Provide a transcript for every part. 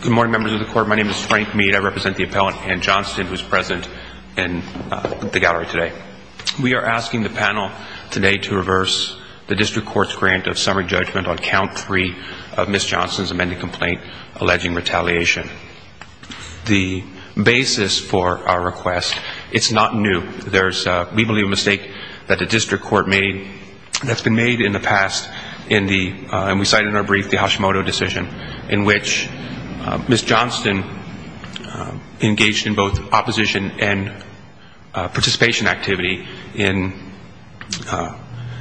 Good morning, members of the court. My name is Frank Meade. I represent the appellant Ann Johnston, who is present in the gallery today. We are asking the panel today to reverse the district court's grant of summary judgment on count three of Ms. Johnston's amended complaint alleging retaliation. The basis for our request, it's not new. There's, we believe, a mistake that the district court made that's been made in the past. And we cite in our brief the Hashimoto decision in which Ms. Johnston engaged in both opposition and participation activity in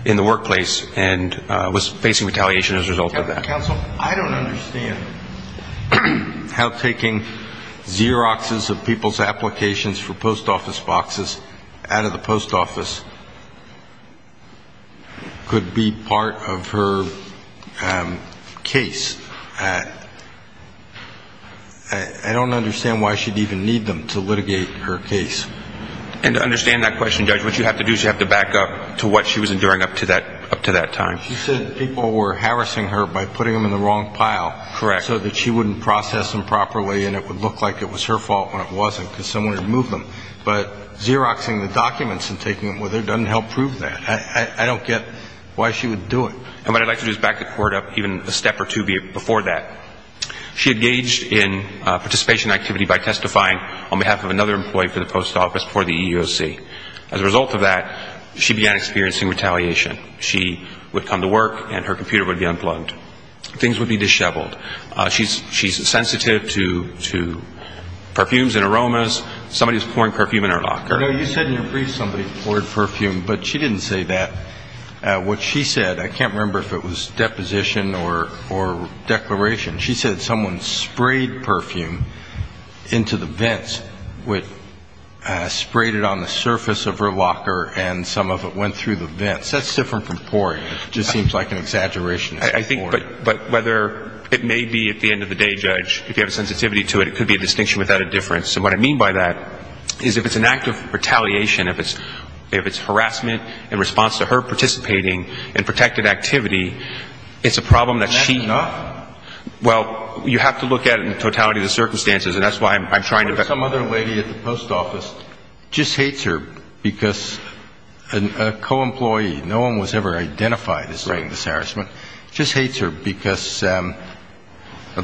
the workplace and was facing retaliation as a result of that. Counsel, I don't understand how taking Xeroxes of people's applications for post office boxes out of the post office could be part of her case. I don't understand why she'd even need them to litigate her case. And to understand that question, Judge, what you have to do is you have to back up to what she was enduring up to that time. She said people were harassing her by putting them in the wrong pile. Correct. So that she wouldn't process them properly and it would look like it was her fault when it wasn't because someone had moved them. But Xeroxing the documents and taking them with her doesn't help prove that. I don't get why she would do it. And what I'd like to do is back the court up even a step or two before that. She engaged in participation activity by testifying on behalf of another employee for the post office before the EEOC. As a result of that, she began experiencing retaliation. She would come to work and her computer would be unplugged. Things would be disheveled. She's sensitive to perfumes and aromas. Somebody was pouring perfume in her locker. You said in your brief somebody poured perfume, but she didn't say that. What she said, I can't remember if it was deposition or declaration. She said someone sprayed perfume into the vents, sprayed it on the surface of her locker, and some of it went through the vents. That's different from pouring. It just seems like an exaggeration. But whether it may be at the end of the day, Judge, if you have a sensitivity to it, it could be a distinction without a difference. And what I mean by that is if it's an act of retaliation, if it's harassment in response to her participating in protected activity, it's a problem that she – And that's enough? Well, you have to look at it in totality of the circumstances, and that's why I'm trying to – But if some other lady at the post office just hates her because a co-employee, no one was ever identified as doing this harassment, just hates her because of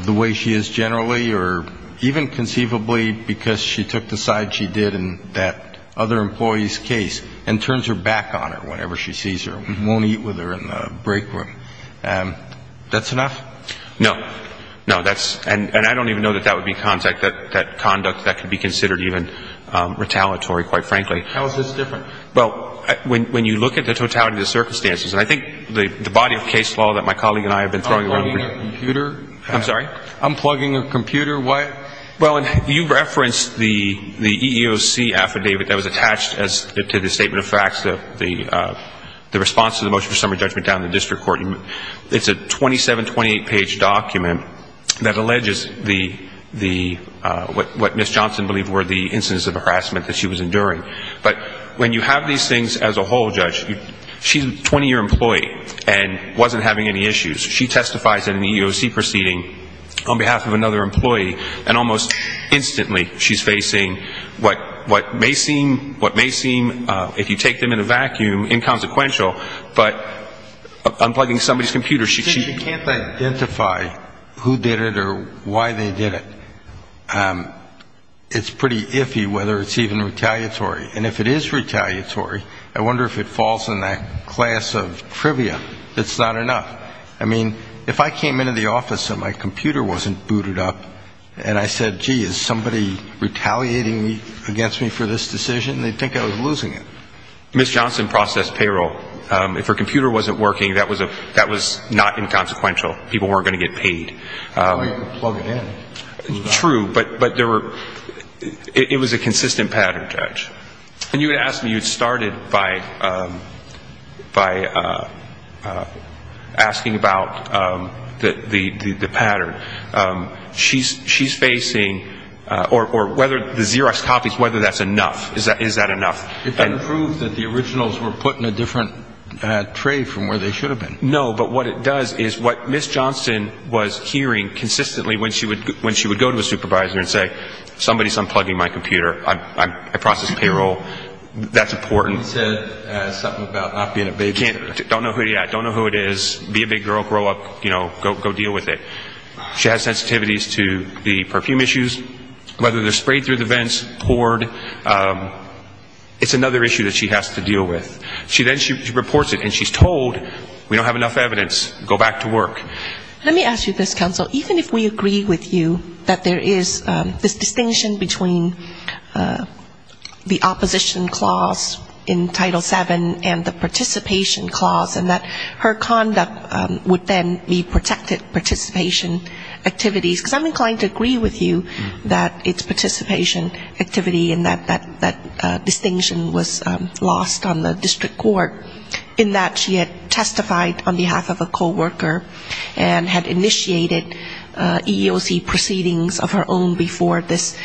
the way she is generally or even conceivably because she took the side she did in that other employee's case and turns her back on her whenever she sees her, won't eat with her in the break room, that's enough? No. No, that's – and I don't even know that that would be conduct that could be considered even retaliatory, quite frankly. How is this different? Well, when you look at the totality of the circumstances, and I think the body of case law that my colleague and I have been throwing around for years – Unplugging a computer? I'm sorry? Unplugging a computer? Well, and you referenced the EEOC affidavit that was attached to the statement of facts, the response to the motion for summary judgment down in the district court. It's a 27, 28-page document that alleges the – what Ms. Johnson believed were the instances of harassment that she was enduring. But when you have these things as a whole, Judge, she's a 20-year employee and wasn't having any issues. She testifies in an EEOC proceeding on behalf of another employee, and almost instantly she's facing what may seem, if you take them in a vacuum, inconsequential. But unplugging somebody's computer, she – She can't identify who did it or why they did it. It's pretty iffy whether it's even retaliatory. And if it is retaliatory, I wonder if it falls in that class of trivia. It's not enough. I mean, if I came into the office and my computer wasn't booted up and I said, gee, is somebody retaliating against me for this decision, they'd think I was losing it. Ms. Johnson processed payroll. If her computer wasn't working, that was not inconsequential. People weren't going to get paid. Well, you can plug it in. True, but there were – it was a consistent pattern, Judge. And you would ask me, you started by asking about the pattern. She's facing – or whether the Xerox copies, whether that's enough. Is that enough? It doesn't prove that the originals were put in a different tray from where they should have been. No, but what it does is what Ms. Johnson was hearing consistently when she would go to a supervisor and say, somebody's unplugging my computer, I processed payroll, that's important. You said something about not being a big girl. Don't know who it is. Be a big girl, grow up, you know, go deal with it. She has sensitivities to the perfume issues, whether they're sprayed through the vents, poured. It's another issue that she has to deal with. Then she reports it and she's told, we don't have enough evidence, go back to work. Let me ask you this, counsel. Even if we agree with you that there is this distinction between the opposition clause in Title VII and the participation clause and that her conduct would then be protected participation activities, because I'm inclined to agree with you that it's participation activity and that that distinction was lost on the district court, in that she had testified on behalf of a coworker and had initiated EEOC proceedings of her own before this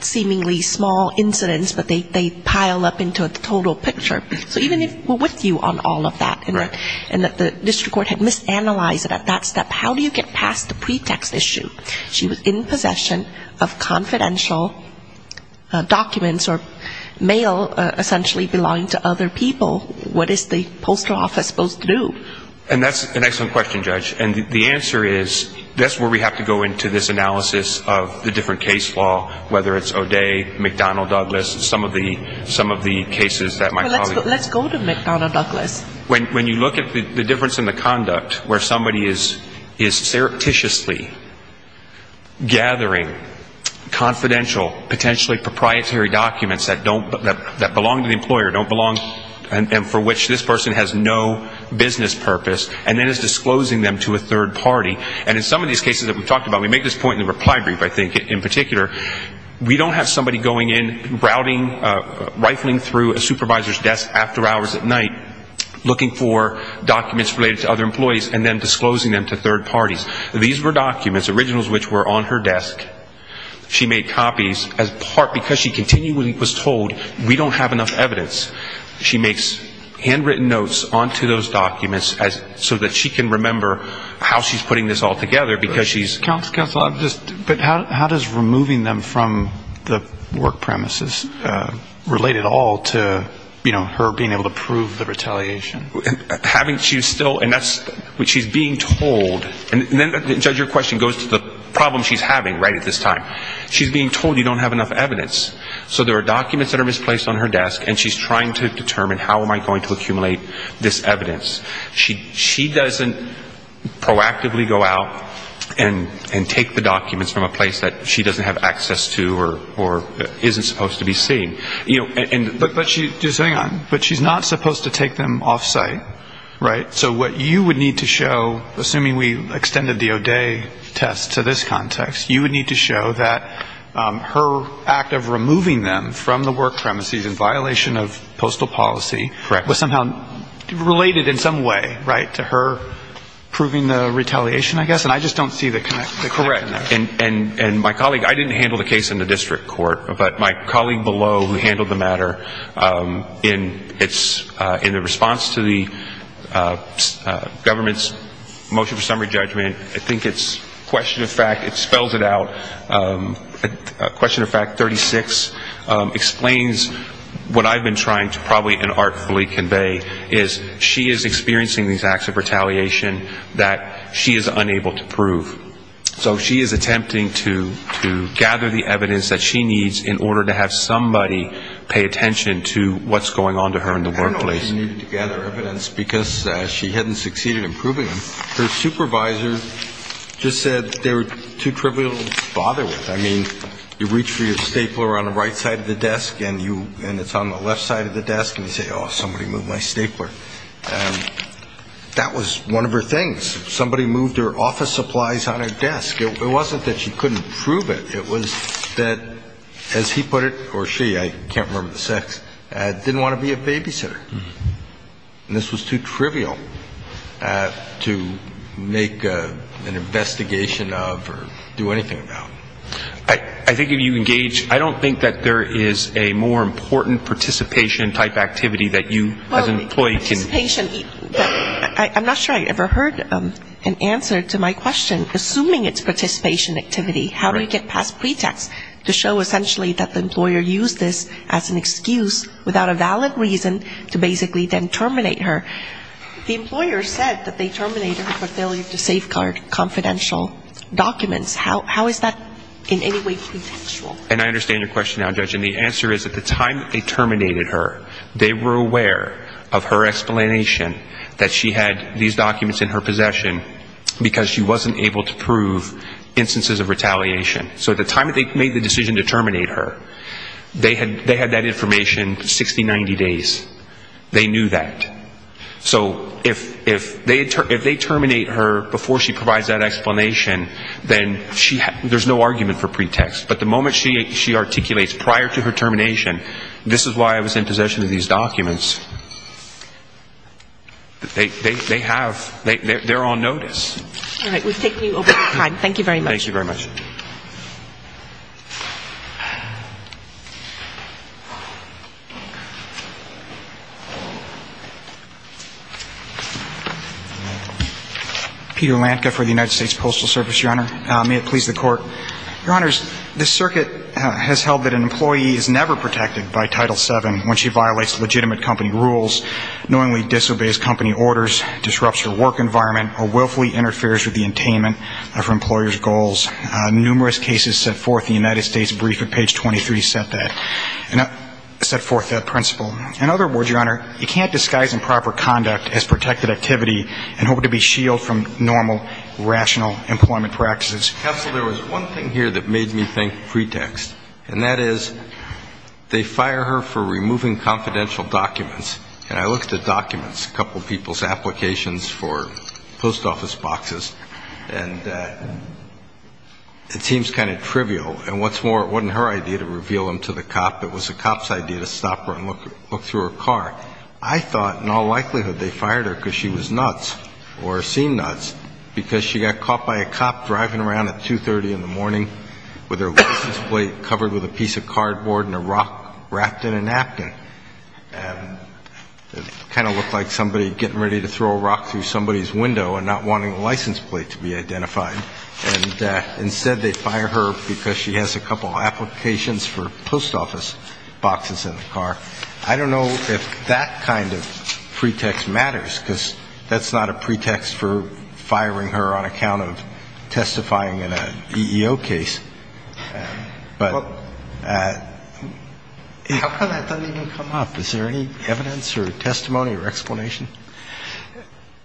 seemingly small incidence, but they pile up into the total picture. So even if we're with you on all of that and that the district court had misanalyzed it at that step, how do you get past the pretext issue? She was in possession of confidential documents or mail essentially belonging to other people and what is the postal office supposed to do? And that's an excellent question, Judge. And the answer is that's where we have to go into this analysis of the different case law, whether it's O'Day, McDonnell-Douglas, some of the cases that my colleague... Let's go to McDonnell-Douglas. When you look at the difference in the conduct where somebody is surreptitiously gathering confidential, potentially proprietary documents that belong to the employer, don't belong... and for which this person has no business purpose and then is disclosing them to a third party. And in some of these cases that we've talked about, we make this point in the reply brief I think in particular, we don't have somebody going in, routing, rifling through a supervisor's desk after hours at night, looking for documents related to other employees and then disclosing them to third parties. These were documents, originals which were on her desk. She made copies as part because she continually was told we don't have enough evidence. She makes handwritten notes onto those documents so that she can remember how she's putting this all together because she's... Counsel, I'm just... But how does removing them from the work premises relate at all to, you know, her being able to prove the retaliation? Having... she's still... and that's what she's being told. And then, Judge, your question goes to the problem she's having right at this time. She's being told you don't have enough evidence. So there are documents that are misplaced on her desk and she's trying to determine how am I going to accumulate this evidence. She doesn't proactively go out and take the documents from a place that she doesn't have access to or isn't supposed to be seen. But she's not supposed to take them off-site, right? So what you would need to show, assuming we extended the O'Day test to this context, you would need to show that her act of removing them from the work premises in violation of postal policy... Correct. ...was somehow related in some way, right, to her proving the retaliation, I guess. Correct. And my colleague... I didn't handle the case in the district court, but my colleague below who handled the matter in the response to the government's motion for summary judgment, I think it's question of fact... it spells it out. Question of fact 36 explains what I've been trying to probably and artfully convey, is she is experiencing these acts of retaliation that she is unable to prove. So she is attempting to gather the evidence that she needs in order to have somebody pay attention to what's going on to her in the workplace. I know she needed to gather evidence because she hadn't succeeded in proving them. Her supervisor just said they were too trivial to bother with. I mean, you reach for your stapler on the right side of the desk and it's on the left side of the desk, and you say, oh, somebody moved my stapler. That was one of her things. Somebody moved her office supplies on her desk. It wasn't that she couldn't prove it. It was that, as he put it, or she, I can't remember the sex, didn't want to be a babysitter. And this was too trivial to make an investigation of or do anything about. I think if you engage, I don't think that there is a more important participation type activity that you as an employee can... Participation, I'm not sure I ever heard an answer to my question. Assuming it's participation activity, how do you get past pretext to show essentially that the employer used this as an excuse without a valid reason to basically then terminate her? The employer said that they terminated her for failure to safeguard confidential documents. How is that in any way pretextual? And I understand your question now, Judge. And the answer is at the time that they terminated her, they were aware of her explanation that she had these documents in her possession because she wasn't able to prove instances of retaliation. So at the time that they made the decision to terminate her, they had that information 60, 90 days. They knew that. So if they terminate her before she provides that explanation, then there's no argument for pretext. But the moment she articulates prior to her termination, this is why I was in possession of these documents, they have, they're on notice. All right. We've taken you over time. Thank you very much. Thank you very much. Peter Lantga for the United States Postal Service, Your Honor. May it please the Court. Your Honors, the circuit has held that an employee is never protected by Title VII when she violates legitimate company rules, knowingly disobeys company orders, disrupts her work environment, or willfully interferes with the attainment of her employer's goals. Numerous cases set forth in the United States brief at page 23 set that, set forth that principle. In other words, Your Honor, you can't disguise improper conduct as protected activity and hope to be shielded from normal, rational employment practices. Counsel, there was one thing here that made me think pretext, and that is they fire her for removing confidential documents. And I looked at documents, a couple of people's applications for post office boxes, and it seems kind of trivial. And what's more, it wasn't her idea to reveal them to the cop. It was the cop's idea to stop her and look through her car. I thought in all likelihood they fired her because she was nuts or seen nuts because she got caught by a cop driving around at 2.30 in the morning with her license plate covered with a piece of cardboard and a rock wrapped in a napkin. And it kind of looked like somebody getting ready to throw a rock through somebody's window and not wanting the license plate to be identified. And instead they fire her because she has a couple of applications for post office boxes in the car. I don't know if that kind of pretext matters because that's not a pretext for firing her on account of testifying in an EEO case. But how come that doesn't even come up? Is there any evidence or testimony or explanation?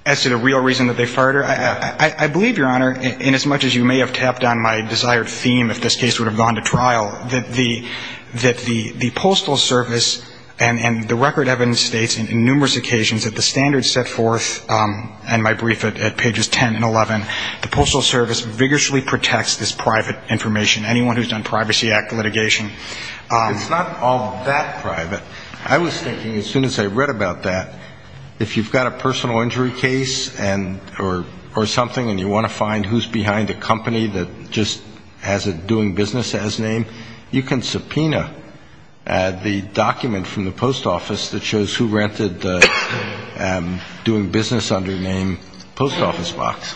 As to the real reason that they fired her, I believe, Your Honor, inasmuch as you may have tapped on my desired theme, if this case would have gone to trial, that the Postal Service and the record evidence states in numerous occasions that the standards set forth in my brief at pages 10 and 11, the Postal Service vigorously protects this private information, anyone who's done Privacy Act litigation. It's not all that private. I was thinking as soon as I read about that, if you've got a personal injury case or something and you want to find who's behind a company that just has a doing business as name, you can subpoena the document from the post office that shows who rented the doing business under name post office box.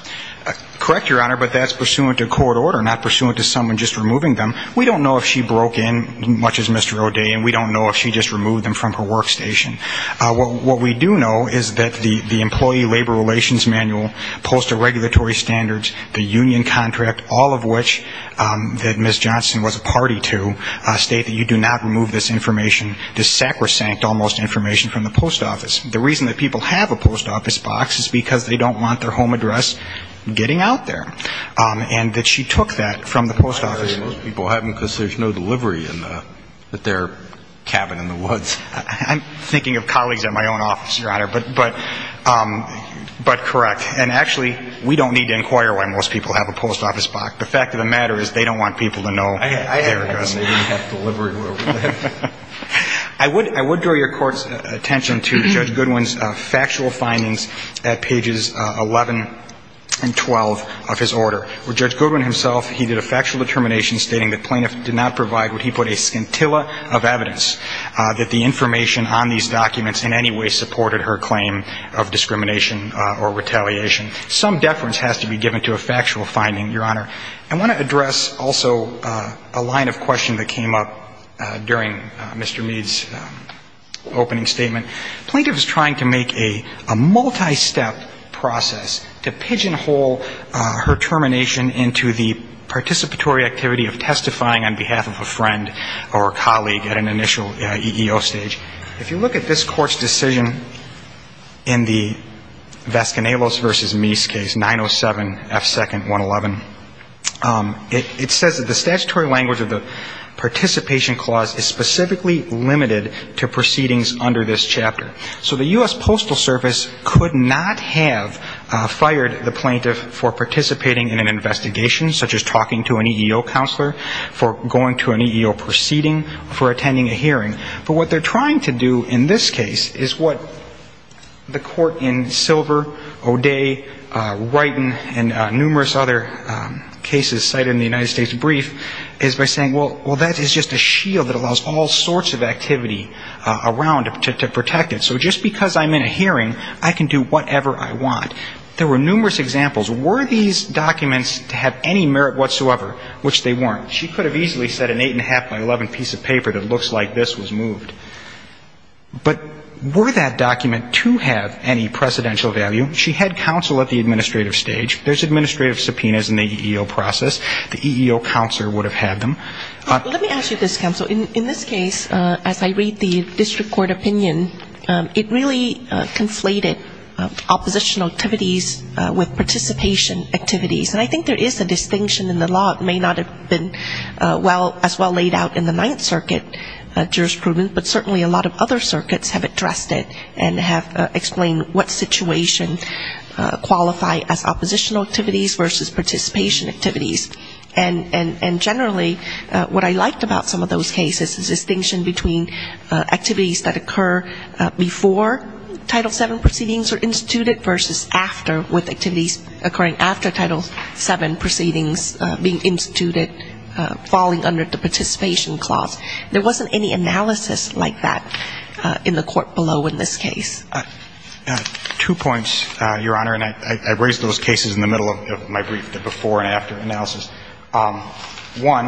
Correct, Your Honor, but that's pursuant to court order, not pursuant to someone just removing them. We don't know if she broke in, much as Mr. O'Day, and we don't know if she just removed them from her workstation. What we do know is that the employee labor relations manual, postal regulatory standards, the union contract, all of which that Ms. Johnson was a party to, state that you do not remove this information, this sacrosanct almost information from the post office. The reason that people have a post office box is because they don't want their home address getting out there, and that she took that from the post office. Most people haven't because there's no delivery in their cabin in the woods. I'm thinking of colleagues at my own office, Your Honor, but correct. And actually, we don't need to inquire why most people have a post office box. The fact of the matter is they don't want people to know their address. They didn't have delivery room. I would draw your court's attention to Judge Goodwin's factual findings at pages 11 and 12 of his order, where Judge Goodwin himself, he did a factual determination stating that plaintiff did not provide what he put, a scintilla of evidence, that the information on these documents in any way supported her claim of discrimination or retaliation. Some deference has to be given to a factual finding, Your Honor. I want to address also a line of question that came up during Mr. Mead's opening statement. Plaintiff is trying to make a multi-step process to pigeonhole her termination into the participatory activity of testifying on behalf of a friend or a colleague at an initial EEO stage. If you look at this court's decision in the Vasconcellos v. Mead's case, 907F2-111, it says that the statutory language of the participation clause is specifically limited to proceedings under this chapter. So the U.S. Postal Service could not have fired the plaintiff for participating in an investigation, such as talking to an EEO counselor, for going to an EEO proceeding, for attending a hearing. But what they're trying to do in this case is what the court in Silver, O'Day, Wrighton, and numerous other cases cited in the United States Brief is by saying, well, that is just a shield that allows all sorts of activity around to protect it. So just because I'm in a hearing, I can do whatever I want. There were numerous examples. Were these documents to have any merit whatsoever? Which they weren't. She could have easily said an 8.5 by 11 piece of paper that looks like this was moved. But were that document to have any precedential value? She had counsel at the administrative stage. There's administrative subpoenas in the EEO process. The EEO counselor would have had them. Let me ask you this, Counsel. In this case, as I read the district court opinion, it really conflated oppositional activities with participation activities. And I think there is a distinction in the law. It may not have been as well laid out in the Ninth Circuit jurisprudence, but certainly a lot of other circuits have addressed it and have explained what situation qualified as oppositional activities versus participation activities. And generally, what I liked about some of those cases is the distinction between activities that occur before Title VII proceedings are instituted versus after, with activities occurring after Title VII proceedings being instituted, falling under the participation clause. There wasn't any analysis like that in the court below in this case. Two points, Your Honor. And I raised those cases in the middle of my brief, the before and after analysis. One,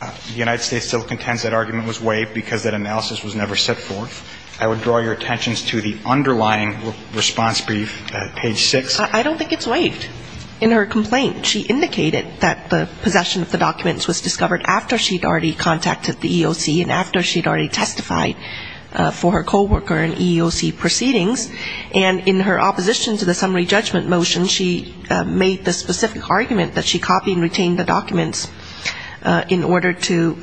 the United States still contends that argument was waived because that analysis was never set forth. I would draw your attention to the underlying response brief at page 6. I don't think it's waived. In her complaint, she indicated that the possession of the documents was discovered after she had already contacted the EEOC and after she had already testified for her coworker and EEOC proceedings. And in her opposition to the summary judgment motion, she made the specific argument that she copied and retained the documents in order to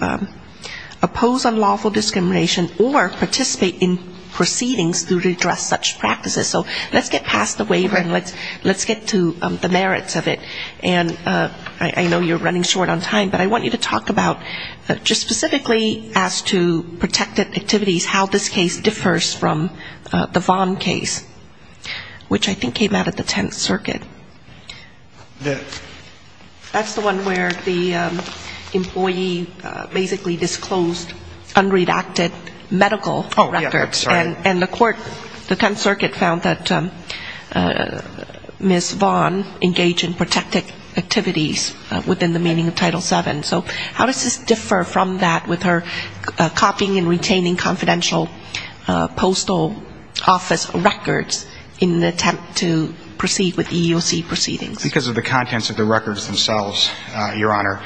oppose unlawful discrimination or participate in proceedings to redress such practices. So let's get past the waiver and let's get to the merits of it. And I know you're running short on time, but I want you to talk about just specifically as to protected activities, how this case differs from the Vaughn case, which I think came out of the Tenth Circuit. That's the one where the employee basically disclosed unredacted medical records. And the court, the Tenth Circuit, found that Ms. Vaughn engaged in protected activities within the meaning of Title VII. So how does this differ from that with her copying and retaining confidential postal office records in an attempt to proceed with EEOC proceedings? Because of the contents of the records themselves, Your Honor.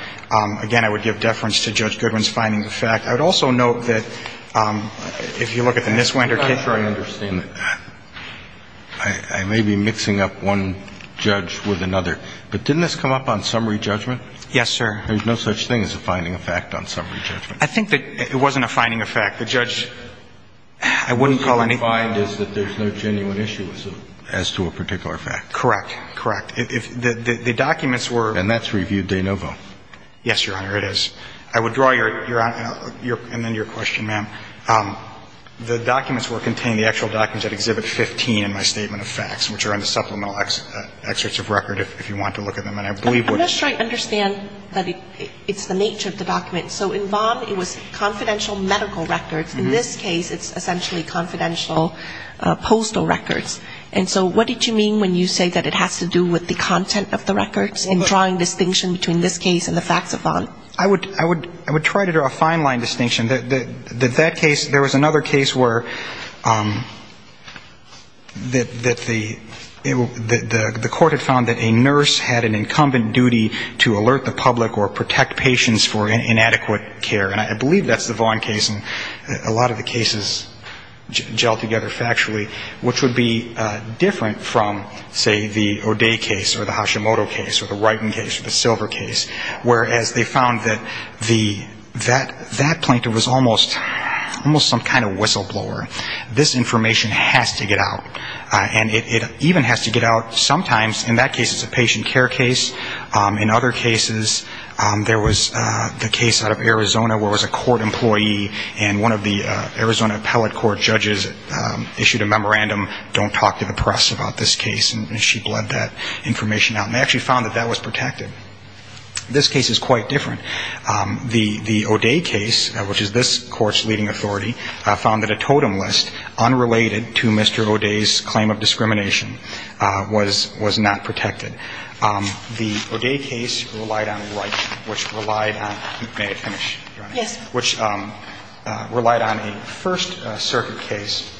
Again, I would give deference to Judge Goodwin's findings of fact. I would also note that if you look at the Miswender case. I'm not sure I understand. I may be mixing up one judge with another. But didn't this come up on summary judgment? Yes, sir. There's no such thing as a finding of fact on summary judgment. I think that it wasn't a finding of fact. The judge, I wouldn't call anything. The finding is that there's no genuine issue as to a particular fact. Correct. Correct. The documents were. And that's reviewed de novo. Yes, Your Honor, it is. I would draw Your Honor, and then your question, ma'am. The documents were contained, the actual documents at Exhibit 15 in my statement of facts, which are in the supplemental excerpts of record if you want to look at them. And I believe what. I'm not sure I understand that it's the nature of the document. So in Vaughn, it was confidential medical records. In this case, it's essentially confidential postal records. And so what did you mean when you say that it has to do with the content of the records and drawing distinction between this case and the facts of Vaughn? I would try to draw a fine-line distinction. That case, there was another case where the court had found that a nurse had an incumbent duty to alert the public or protect patients for inadequate care. And I believe that's the Vaughn case, and a lot of the cases gel together factually, which would be different from, say, the O'Day case or the Hashimoto case or the Wrighton case or the Silver case, whereas they found that that plaintiff was almost some kind of whistleblower. This information has to get out. And it even has to get out sometimes. In that case, it's a patient care case. In other cases, there was the case out of Arizona where it was a court employee, and one of the Arizona Appellate Court judges issued a memorandum, don't talk to the press about this case, and she bled that information out. And they actually found that that was protected. This case is quite different. The O'Day case, which is this Court's leading authority, found that a totem list unrelated to Mr. O'Day's claim of discrimination was not protected. The O'Day case relied on Wright, which relied on – may I finish, Your Honor? Yes. Which relied on a First Circuit case,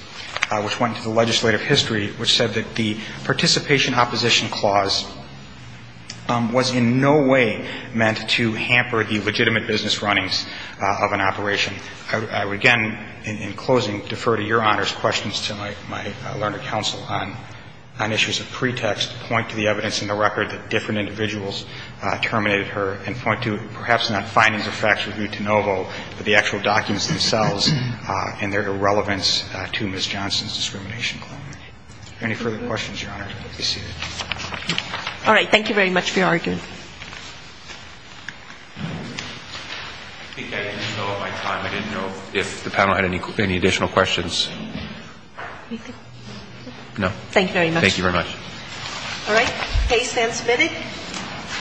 which went into the legislative history, which said that the participation opposition clause was in no way meant to hamper the legitimate business runnings of an operation. I would, again, in closing, defer to Your Honor's questions to my learned counsel on issues of pretext, point to the evidence in the record that different individuals terminated her, and point to, perhaps not findings or facts reviewed de novo, but the Any further questions, Your Honor? You're seated. All right. Thank you very much for your argument. I think I didn't fill up my time. I didn't know if the panel had any additional questions. Anything? No. Thank you very much. Thank you very much. All right.